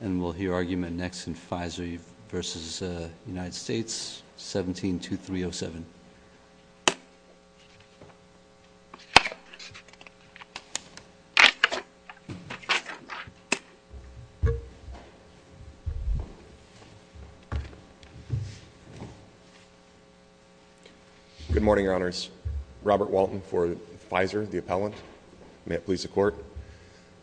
And we'll hear argument next in Pfizer v. United States, 17-2307. Good morning, Your Honors. Robert Walton for Pfizer, the appellant. May it please the Court.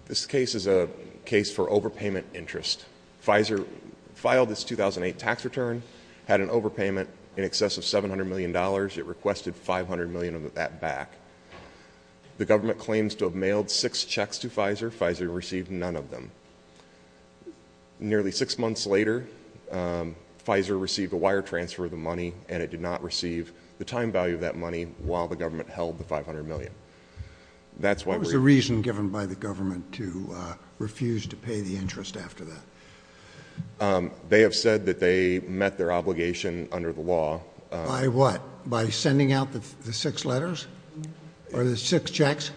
This case is a case for overpayment interest. Pfizer filed its 2008 tax return, had an overpayment in excess of $700 million. It requested $500 million of that back. The government claims to have mailed six checks to Pfizer. Pfizer received none of them. Nearly six months later, Pfizer received a wire transfer of the money, and it did not receive the time value of that money while the government held the $500 million. What was the reason given by the government to refuse to pay the interest after that? They have said that they met their obligation under the law. By what? By sending out the six letters? Or the six checks?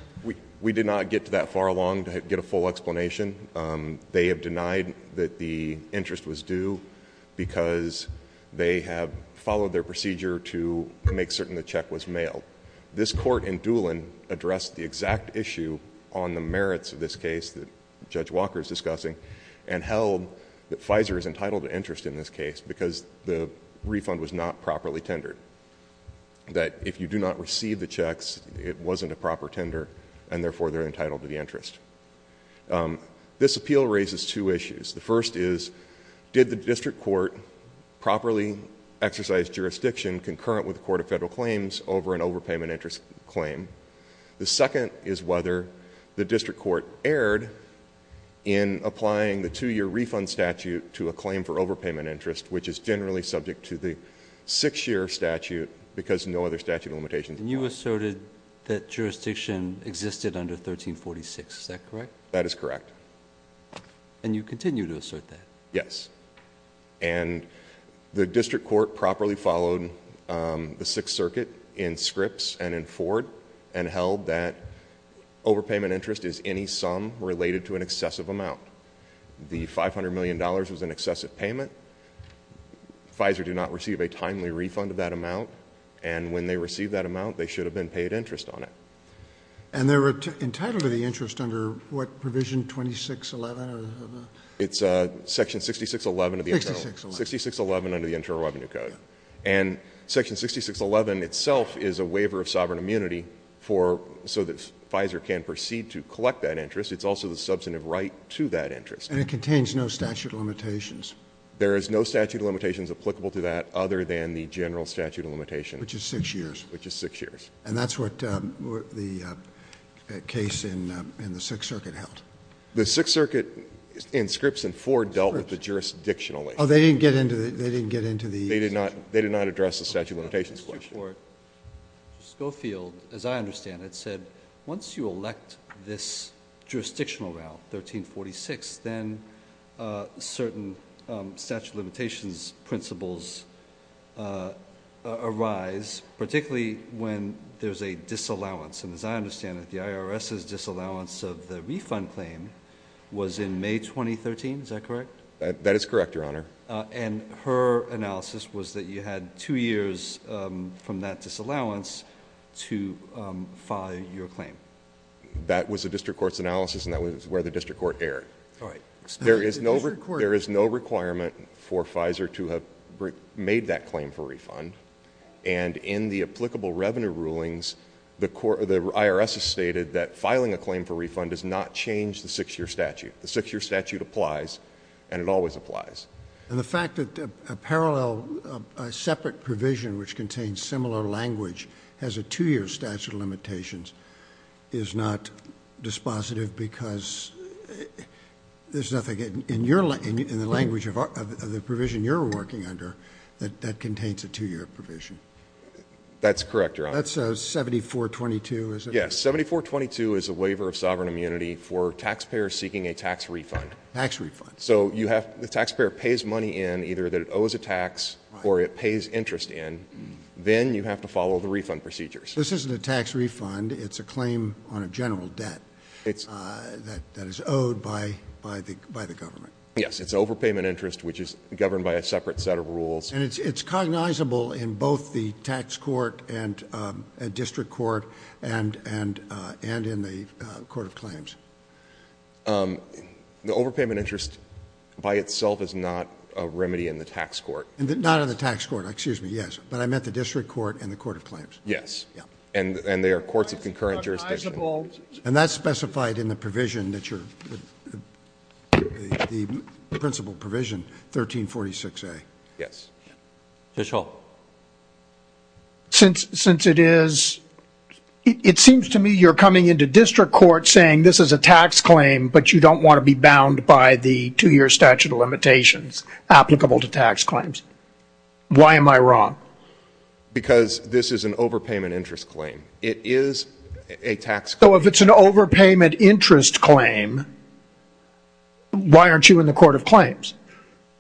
We did not get that far along to get a full explanation. They have denied that the interest was due because they have followed their procedure to make certain the check was mailed. This Court in Doolin addressed the exact issue on the merits of this case that Judge Walker is discussing and held that Pfizer is entitled to interest in this case because the refund was not properly tendered. That if you do not receive the checks, it wasn't a proper tender, and therefore they're entitled to the interest. This appeal raises two issues. The first is, did the district court properly exercise jurisdiction concurrent with the Court of Federal Claims over an overpayment interest claim? The second is whether the district court erred in applying the two-year refund statute to a claim for overpayment interest, which is generally subject to the six-year statute because no other statute of limitations... And you asserted that jurisdiction existed under 1346. Is that correct? That is correct. And you continue to assert that? Yes. And the district court properly followed the Sixth Circuit in Scripps and in Ford and held that overpayment interest is any sum related to an excessive amount. The $500 million was an excessive payment. Pfizer did not receive a timely refund of that amount. And when they received that amount, they should have been paid interest on it. And they're entitled to the interest under what provision, 2611? It's Section 6611 of the Internal... 6611. 6611 under the Internal Revenue Code. And Section 6611 itself is a waiver of sovereign immunity for so that Pfizer can proceed to collect that interest. It's also the substantive right to that interest. And it contains no statute of limitations? There is no statute of limitations applicable to that other than the general statute of limitations. Which is six years. Which is six years. And that's what the case in the Sixth Circuit held? The Sixth Circuit in Scripps and Ford dealt with it jurisdictionally. Oh, they didn't get into the... They did not address the statute of limitations question. Mr. Schofield, as I understand it, said once you elect this jurisdictional route, 1346, then certain statute of limitations principles arise, particularly when there's a disallowance. And as I understand it, the IRS's disallowance of the refund claim was in May 2013. Is that correct? That is correct, Your Honor. And her analysis was that you had two years from that disallowance to file your claim? That was the district court's analysis and that was where the district court erred. There is no requirement for Pfizer to have made that claim for refund. And in the applicable revenue rulings, the IRS has stated that filing a claim for refund does not change the six-year statute. The six-year statute applies and it always applies. And the fact that a parallel, a separate provision which contains similar language has a two-year statute of limitations is not dispositive because there's nothing in the language of the provision you're working under that contains a two-year provision. That's correct, Your Honor. That's 7422, is it? Yes. 7422 is a waiver of sovereign immunity for taxpayers seeking a tax refund. Tax refund. So the taxpayer pays money in either that it owes a tax or it pays interest in. Then you have to follow the refund procedures. This isn't a tax refund. It's a claim on a general debt that is owed by the government. Yes. It's overpayment interest, which is governed by a separate set of rules. And it's cognizable in both the tax court and district court and in the court of claims. The overpayment interest by itself is not a remedy in the tax court. Not in the tax court. Excuse me. Yes. But I meant the district court and the court of claims. Yes. And they are courts of concurrent jurisdiction. And that's specified in the provision that you're, the principal provision, 1346A. Yes. Judge Hall. Since it is, it seems to me you're coming into district court saying this is a tax claim, but you don't want to be bound by the two-year statute of limitations applicable to tax claims. Why am I wrong? Because this is an overpayment interest claim. It is a tax claim. So if it's an overpayment interest claim, why aren't you in the court of claims?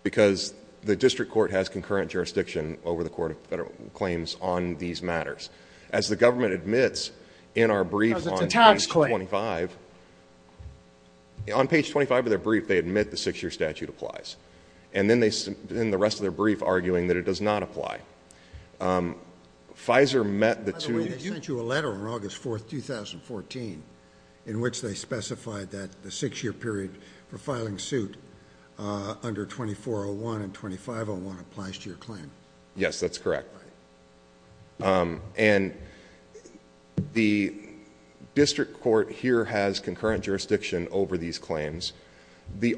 Because the district court has concurrent jurisdiction over the court of claims on these matters. As the government admits in our brief on page 25. Because it's a tax claim. On page 25 of their brief, they admit the six-year statute applies. And then they, in the rest of their brief, arguing that it does not apply. Pfizer met the two... By the way, they sent you a letter on August 4th, 2014, in which they specified that the six-year period for filing suit under 2401 and 2501 applies to your claim. Yes, that's correct. Right. And the district court here has concurrent jurisdiction over these claims.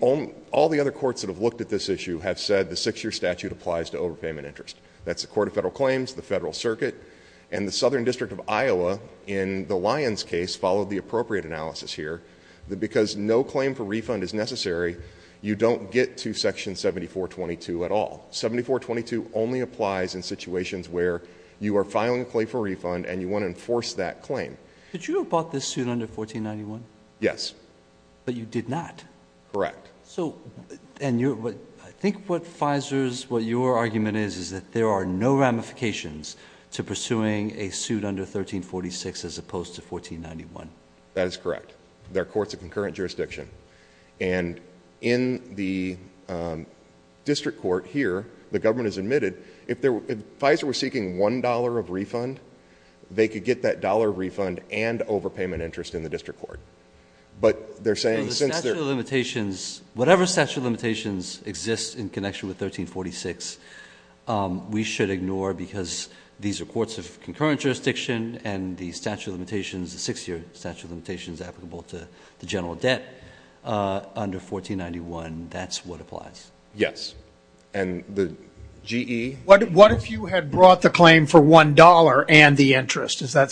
All the other courts that have looked at this issue have said the six-year statute applies to overpayment interest. That's the court of federal claims, the Federal Circuit. And the Southern District of Iowa, in the Lyons case, followed the appropriate analysis here. Because no claim for refund is necessary, you don't get to Section 7422 at all. 7422 only applies in situations where you are filing a claim for refund and you want to enforce that claim. Could you have bought this suit under 1491? Yes. But you did not. Correct. I think what your argument is, is that there are no ramifications to pursuing a suit under 1346 as opposed to 1491. That is correct. There are courts of concurrent jurisdiction. And in the district court here, the government has admitted, if Pfizer were seeking one dollar of refund, they could get that dollar refund and overpayment interest in the district court. But they're saying since they're- The statute of limitations, whatever statute of limitations exists in connection with 1346, we should ignore because these are courts of concurrent jurisdiction and the statute of limitations, the six-year statute of limitations applicable to the general debt under 1491, that's what applies. Yes. And the GE- What if you had brought the claim for one dollar and the interest? Does the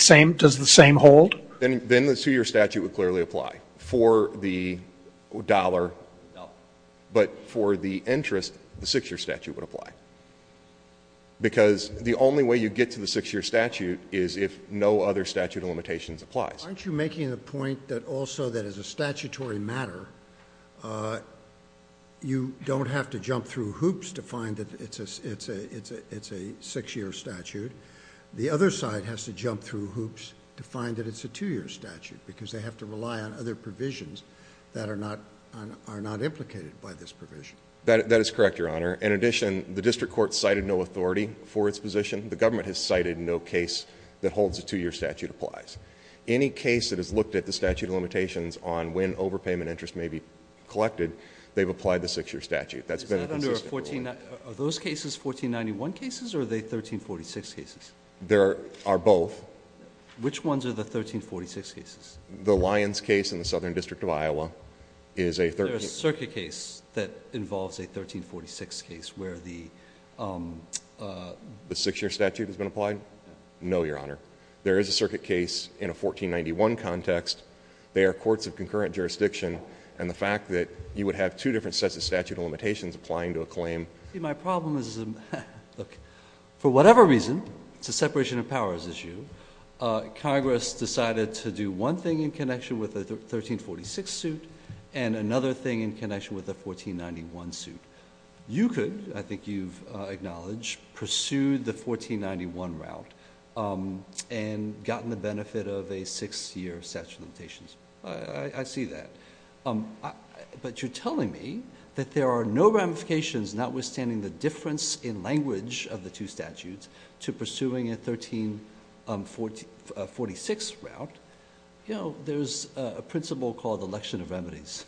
same hold? Then the two-year statute would clearly apply for the dollar. No. But for the interest, the six-year statute would apply. Because the only way you get to the six-year statute is if no other statute of limitations applies. Aren't you making the point that also that as a statutory matter, you don't have to jump through hoops to find that it's a six-year statute? The other side has to jump through hoops to find that it's a two-year statute because they have to rely on other provisions that are not implicated by this provision. That is correct, Your Honor. In addition, the district court cited no authority for its position. The government has cited no case that holds a two-year statute applies. Any case that has looked at the statute of limitations on when overpayment interest may be collected, they've applied the six-year statute. Are those cases 1491 cases or are they 1346 cases? There are both. Which ones are the 1346 cases? The Lyons case in the Southern District of Iowa is a 1346 case. There is a circuit case that involves a 1346 case where the six-year statute has been applied? No, Your Honor. There is a circuit case in a 1491 context. They are courts of concurrent jurisdiction, and the fact that you would have two different sets of statute of limitations applying to a claim. See, my problem is, look, for whatever reason, it's a separation of powers issue, Congress decided to do one thing in connection with the 1346 suit and another thing in connection with the 1491 suit. You could, I think you've acknowledged, pursue the 1491 route and gotten the benefit of a six-year statute of limitations. I see that. But you're telling me that there are no ramifications, notwithstanding the difference in language of the two statutes, to pursuing a 1346 route. You know, there's a principle called election of remedies.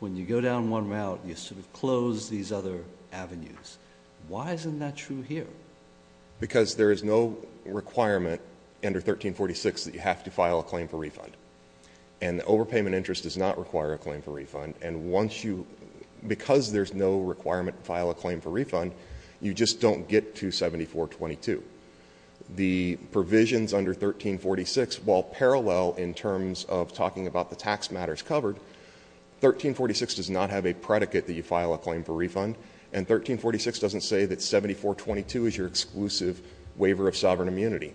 When you go down one route, you sort of close these other avenues. Why isn't that true here? Because there is no requirement under 1346 that you have to file a claim for refund. And overpayment interest does not require a claim for refund. And once you, because there's no requirement to file a claim for refund, you just don't get to 7422. The provisions under 1346, while parallel in terms of talking about the tax matters covered, 1346 does not have a predicate that you file a claim for refund, and 1346 doesn't say that 7422 is your exclusive waiver of sovereign immunity.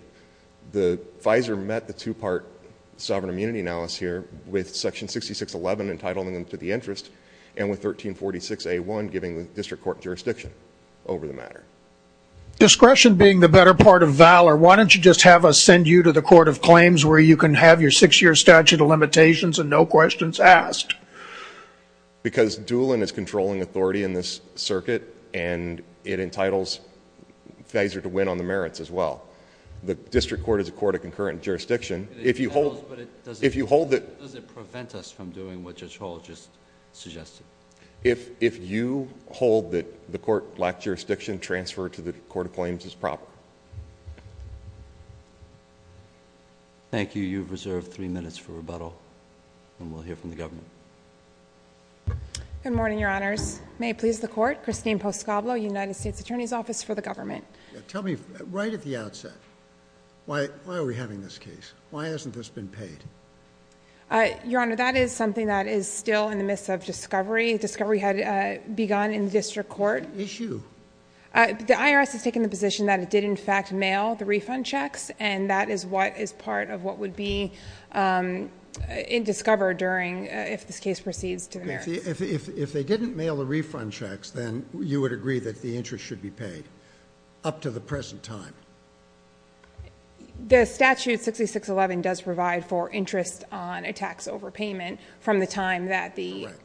The FISA met the two-part sovereign immunity analysis here with Section 6611 entitling them to the interest and with 1346A1 giving the district court jurisdiction over the matter. Discretion being the better part of valor, why don't you just have us send you to the Court of Claims where you can have your six-year statute of limitations and no questions asked? Because Doolin is controlling authority in this circuit and it entitles FISA to win on the merits as well. The district court is a court of concurrent jurisdiction. If you hold... Does it prevent us from doing what Judge Hall just suggested? If you hold that the court lacked jurisdiction, transfer to the Court of Claims is proper. Thank you. I believe you've reserved three minutes for rebuttal, and we'll hear from the government. Good morning, Your Honors. May it please the Court, Christine Poscoblo, United States Attorney's Office for the Government. Tell me, right at the outset, why are we having this case? Why hasn't this been paid? Your Honor, that is something that is still in the midst of discovery. Discovery had begun in the district court. Issue. The IRS has taken the position that it did, in fact, mail the refund checks, and that is what is part of what would be discovered during... if this case proceeds to the merits. If they didn't mail the refund checks, then you would agree that the interest should be paid up to the present time? The statute 6611 does provide for interest on a tax overpayment from the time that the... Correct.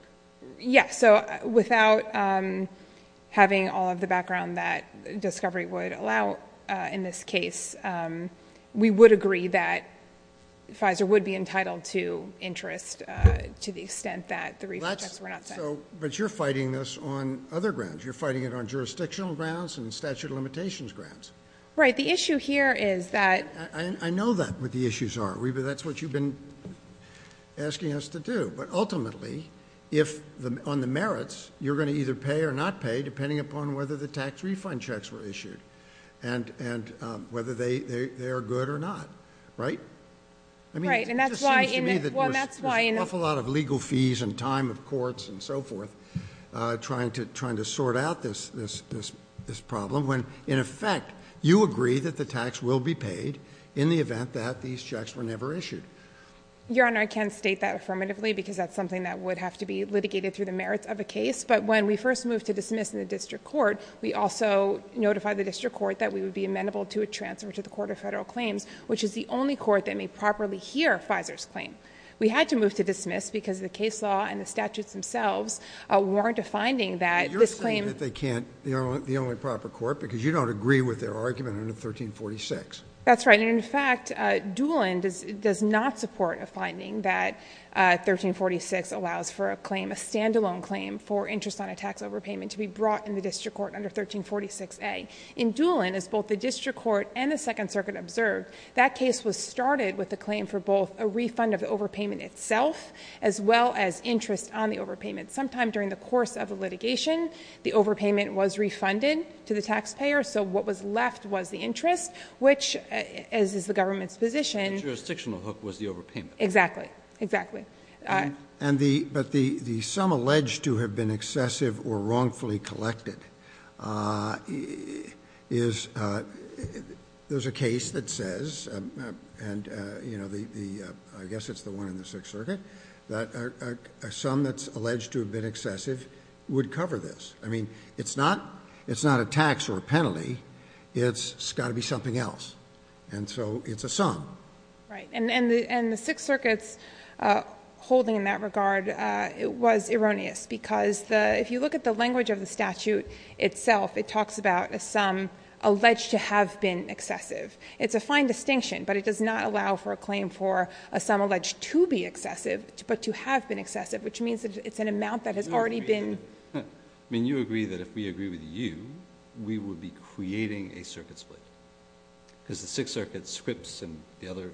Yes. Without having all of the background that discovery would allow in this case, we would agree that Pfizer would be entitled to interest to the extent that the refund checks were not sent. But you're fighting this on other grounds. You're fighting it on jurisdictional grounds and statute of limitations grounds. Right. The issue here is that... I know what the issues are. That's what you've been asking us to do. But ultimately, on the merits, you're going to either pay or not pay, depending upon whether the tax refund checks were issued, and whether they are good or not. Right? Right. And that's why... It just seems to me that there's an awful lot of legal fees and time of courts and so forth, trying to sort out this problem, when, in effect, you agree that the tax will be paid in the event that these checks were never issued. Your Honor, I can't state that affirmatively, because that's something that would have to be litigated through the merits of a case. But when we first moved to dismiss in the district court, we also notified the district court that we would be amendable to a transfer to the Court of Federal Claims, which is the only court that may properly hear Pfizer's claim. We had to move to dismiss because the case law and the statutes themselves warrant a finding that this claim... But you're saying that they can't, the only proper court, because you don't agree with their argument under 1346. That's right. And, in fact, Doolin does not support a finding that 1346 allows for a claim, a standalone claim for interest on a tax overpayment to be brought in the district court under 1346A. In Doolin, as both the district court and the Second Circuit observed, that case was started with a claim for both a refund of the overpayment itself, as well as interest on the overpayment. Sometime during the course of the litigation, the overpayment was refunded to the taxpayer. So what was left was the interest, which, as is the government's position... The jurisdictional hook was the overpayment. Exactly. Exactly. But the sum alleged to have been excessive or wrongfully collected is... There's a case that says, and I guess it's the one in the Sixth Circuit, that a sum that's alleged to have been excessive would cover this. I mean, it's not a tax or a penalty. It's got to be something else. And so, it's a sum. Right. And the Sixth Circuit's holding in that regard was erroneous because if you look at the language of the statute itself, it talks about a sum alleged to have been excessive. It's a fine distinction, but it does not allow for a claim for a sum alleged to be excessive, but to have been excessive, which means that it's an amount that has already been... I mean, you agree that if we agree with you, we would be creating a circuit split. Because the Sixth Circuit's scripts and the other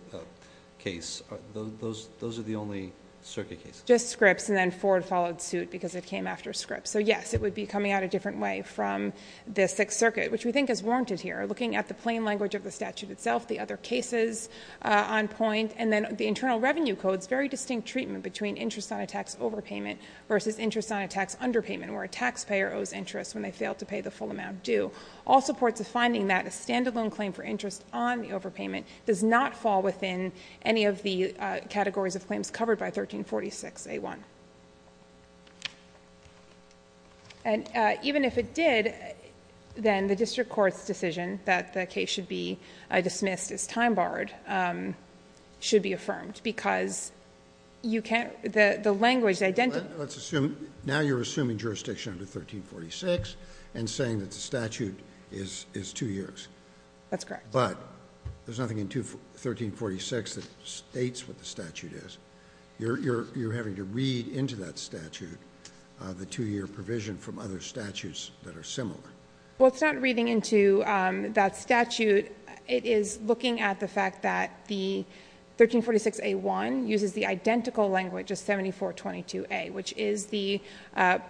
case, those are the only circuit cases. Just scripts, and then Ford followed suit because it came after scripts. So, yes, it would be coming out a different way from the Sixth Circuit, which we think is warranted here. Looking at the plain language of the statute itself, the other cases on point, and then the Internal Revenue Code's very distinct treatment between interest on a tax overpayment versus interest on a tax underpayment, where a taxpayer owes interest when they fail to pay the full amount due. All supports a finding that a stand-alone claim for interest on the overpayment does not fall within any of the categories of claims covered by 1346A1. And even if it did, then the district court's decision that the case should be dismissed as time-barred should be affirmed because you can't... the language... Let's assume... now you're assuming jurisdiction under 1346 and saying that the statute is two years. That's correct. But there's nothing in 1346 that states what the statute is. You're having to read into that statute the two-year provision from other statutes that are similar. Well, it's not reading into that statute. It is looking at the fact that the 1346A1 uses the identical language as 7422A, which is the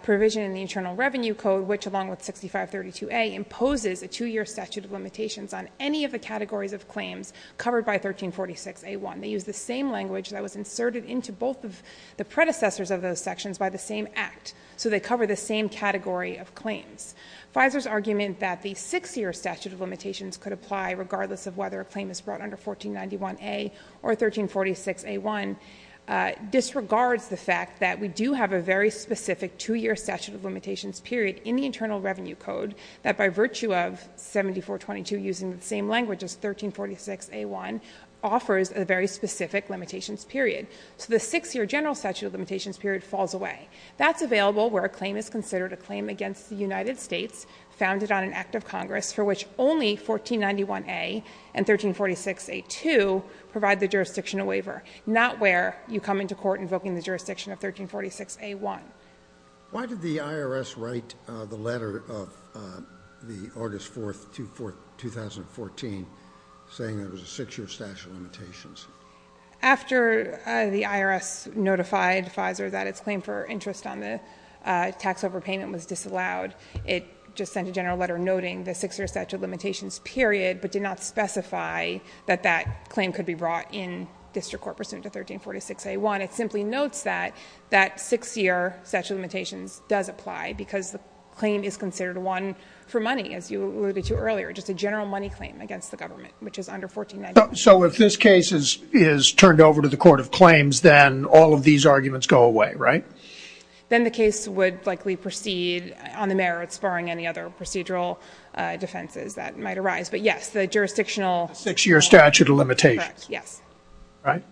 provision in the Internal Revenue Code which, along with 6532A, imposes a two-year statute of limitations on any of the categories of claims covered by 1346A1. They use the same language that was inserted into both of the predecessors of those sections by the same Act. So they cover the same category of claims. FISER's argument that the six-year statute of limitations could apply, regardless of whether a claim is brought under 1491A or 1346A1, disregards the fact that we do have a very specific two-year statute of limitations period in the Internal Revenue Code that, by virtue of 7422 using the same language as 1346A1, offers a very specific limitations period. So the six-year general statute of limitations period falls away. That's available where a claim is considered a claim against the United States founded on an Act of Congress for which only 1491A and 1346A2 provide the jurisdiction of waiver, not where you come into court invoking the jurisdiction of 1346A1. Why did the IRS write the letter of the August 4, 2014, saying there was a six-year statute of limitations? After the IRS notified FISER that its claim for interest on the tax overpayment was disallowed, it just sent a general letter noting the six-year statute of limitations period, but did not specify that that claim could be brought in district court pursuant to 1346A1. It simply notes that that six-year statute of limitations does apply because the claim is considered one for money, as you alluded to earlier, just a general money claim against the government, which is under 1491A. So if this case is turned over to the court of claims, then all of these arguments go away, right? Then the case would likely proceed on the merits barring any other procedural defenses that might arise. But, yes, the jurisdictional — Six-year statute of limitations. Yes. Right?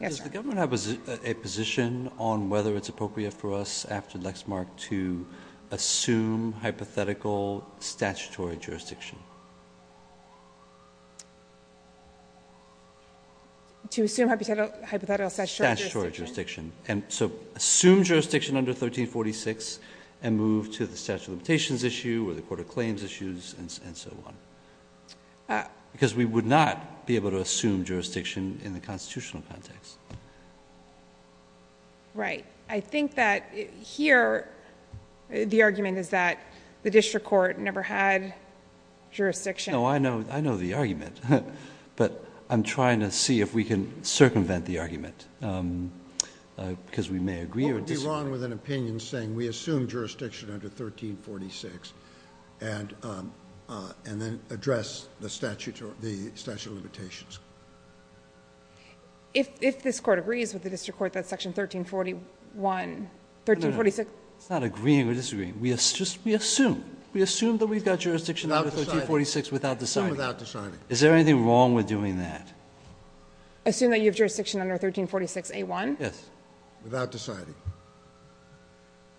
Yes, sir. Does the government have a position on whether it's appropriate for us, after Lexmark, to assume hypothetical statutory jurisdiction? To assume hypothetical statutory jurisdiction. Statutory jurisdiction. And so assume jurisdiction under 1346 and move to the statute of limitations issue or the court of claims issues and so on. Because we would not be able to assume jurisdiction in the constitutional context. Right. I think that here the argument is that the district court never had jurisdiction. No, I know the argument. But I'm trying to see if we can circumvent the argument because we may agree or disagree. I would be wrong with an opinion saying we assume jurisdiction under 1346 and then address the statute of limitations. If this court agrees with the district court that section 1341 — 1346 — No, no, no. It's not agreeing or disagreeing. We assume. We assume that we've got jurisdiction under 1346 without deciding. Without deciding. Is there anything wrong with doing that? Assume that you have jurisdiction under 1346A1? Yes. Without deciding.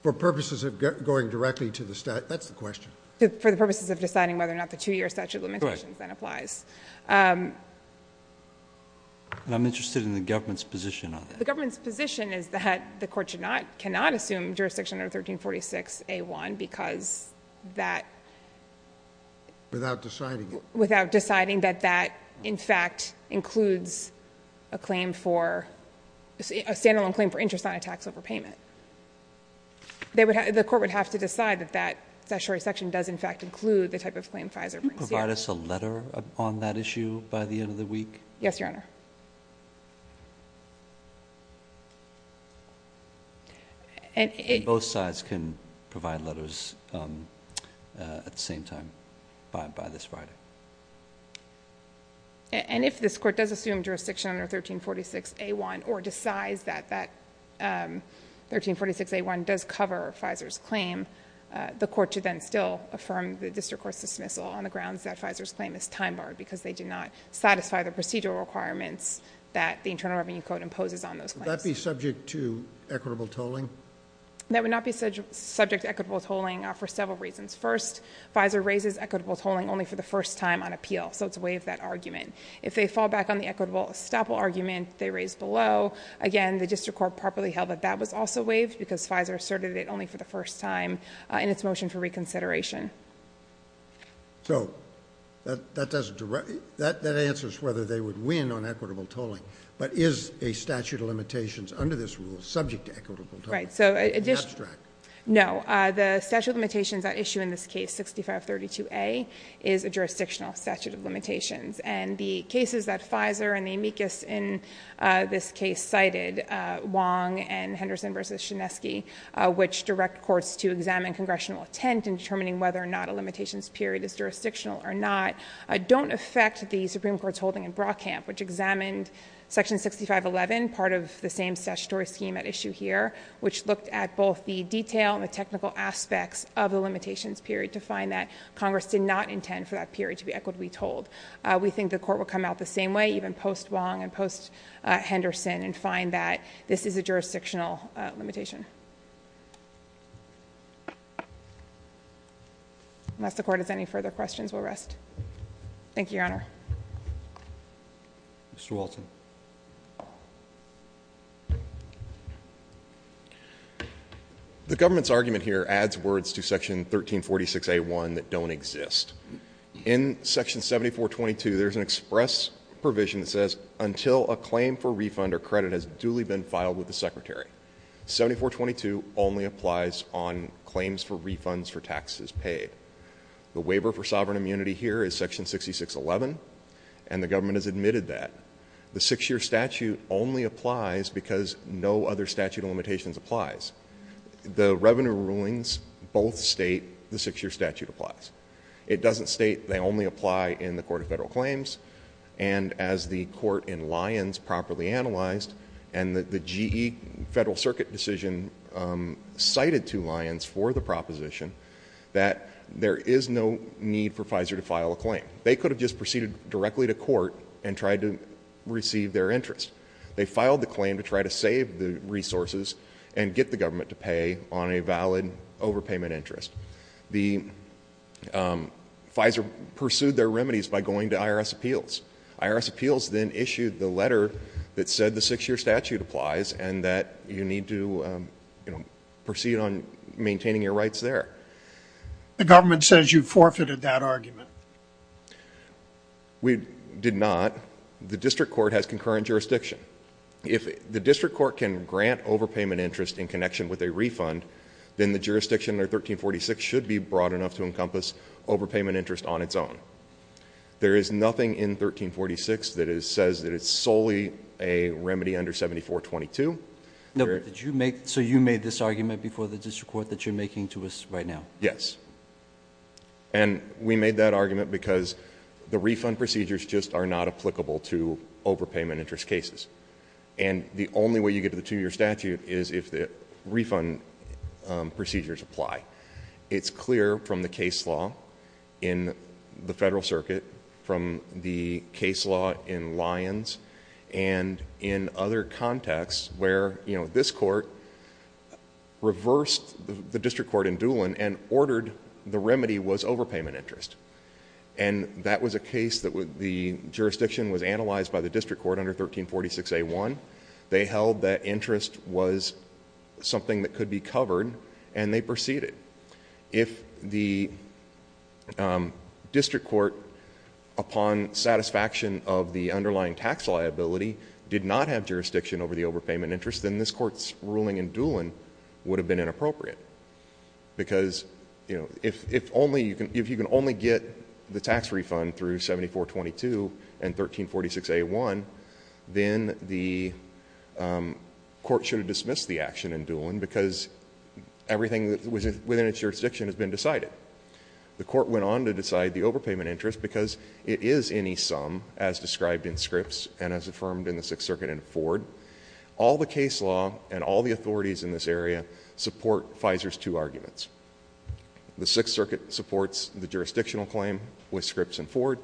For purposes of going directly to the statute. That's the question. For the purposes of deciding whether or not the two-year statute of limitations then applies. Correct. And I'm interested in the government's position on that. The government's position is that the court cannot assume jurisdiction under 1346A1 because that — Without deciding. Without deciding that that, in fact, includes a claim for — a stand-alone claim for interest on a tax overpayment. The court would have to decide that that statutory section does, in fact, include the type of claim FISA brings down. Can you provide us a letter on that issue by the end of the week? Yes, Your Honor. And both sides can provide letters at the same time by this Friday. And if this court does assume jurisdiction under 1346A1 or decides that that 1346A1 does cover FISA's claim, the court should then still affirm the district court's dismissal on the grounds that FISA's claim is time-barred because they did not satisfy the procedural requirements that the Internal Revenue Code imposes on those claims. Would that be subject to equitable tolling? That would not be subject to equitable tolling for several reasons. First, FISA raises equitable tolling only for the first time on appeal, so it's waived that argument. If they fall back on the equitable estoppel argument they raised below, again, the district court properly held that that was also waived because FISA asserted it only for the first time in its motion for reconsideration. So that answers whether they would win on equitable tolling, but is a statute of limitations under this rule subject to equitable tolling? Right. It's abstract. No. The statute of limitations at issue in this case, 6532A, is a jurisdictional statute of limitations. And the cases that FISA and the amicus in this case cited, Wong and Henderson v. Chinesky, which direct courts to examine congressional intent in determining whether or not a limitations period is jurisdictional or not, don't affect the Supreme Court's holding in Brockamp, which examined Section 6511, part of the same statutory scheme at issue here, which looked at both the detail and the technical aspects of the limitations period to find that Congress did not intend for that period to be equitably tolled. We think the court will come out the same way, even post-Wong and post-Henderson, and find that this is a jurisdictional limitation. Unless the court has any further questions, we'll rest. Thank you, Your Honor. Mr. Walton. The government's argument here adds words to Section 1346A1 that don't exist. In Section 7422, there's an express provision that says, until a claim for refund or credit has duly been filed with the Secretary. 7422 only applies on claims for refunds for taxes paid. The waiver for sovereign immunity here is Section 6611, and the government has admitted that. The six-year statute only applies because no other statute of limitations applies. The revenue rulings both state the six-year statute applies. It doesn't state they only apply in the Court of Federal Claims, and as the court in Lyons properly analyzed, and the GE Federal Circuit decision cited to Lyons for the proposition, that there is no need for FISA to file a claim. They could have just proceeded directly to court and tried to receive their interest. They filed the claim to try to save the resources and get the government to pay on a valid overpayment interest. The FISA pursued their remedies by going to IRS appeals. IRS appeals then issued the letter that said the six-year statute applies and that you need to, you know, proceed on maintaining your rights there. The government says you forfeited that argument. We did not. The district court has concurrent jurisdiction. If the district court can grant overpayment interest in connection with a refund, then the jurisdiction under 1346 should be broad enough to encompass overpayment interest on its own. There is nothing in 1346 that says that it's solely a remedy under 7422. So you made this argument before the district court that you're making to us right now? Yes. And we made that argument because the refund procedures just are not applicable to overpayment interest cases. And the only way you get to the two-year statute is if the refund procedures apply. It's clear from the case law in the Federal Circuit, from the case law in Lyons, and in other contexts where, you know, this court reversed the district court in Doolin and ordered the remedy was overpayment interest. And that was a case that the jurisdiction was analyzed by the district court under 1346A1. They held that interest was something that could be covered, and they proceeded. If the district court, upon satisfaction of the underlying tax liability, did not have jurisdiction over the overpayment interest, then this court's ruling in Doolin would have been inappropriate. Because, you know, if you can only get the tax refund through 7422 and 1346A1, then the court should have dismissed the action in Doolin because everything within its jurisdiction has been decided. The court went on to decide the overpayment interest because it is any sum as described in Scripps and as affirmed in the Sixth Circuit and Ford. All the case law and all the authorities in this area support FISA's two arguments. The Sixth Circuit supports the jurisdictional claim with Scripps and Ford.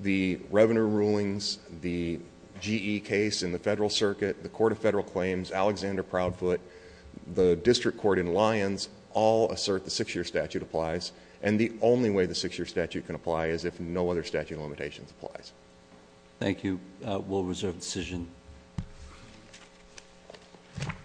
The revenue rulings, the GE case in the Federal Circuit, the Court of Federal Claims, Alexander Proudfoot, the district court in Lyons, all assert the six-year statute applies. And the only way the six-year statute can apply is if no other statute of limitations applies. Thank you. We'll reserve the decision.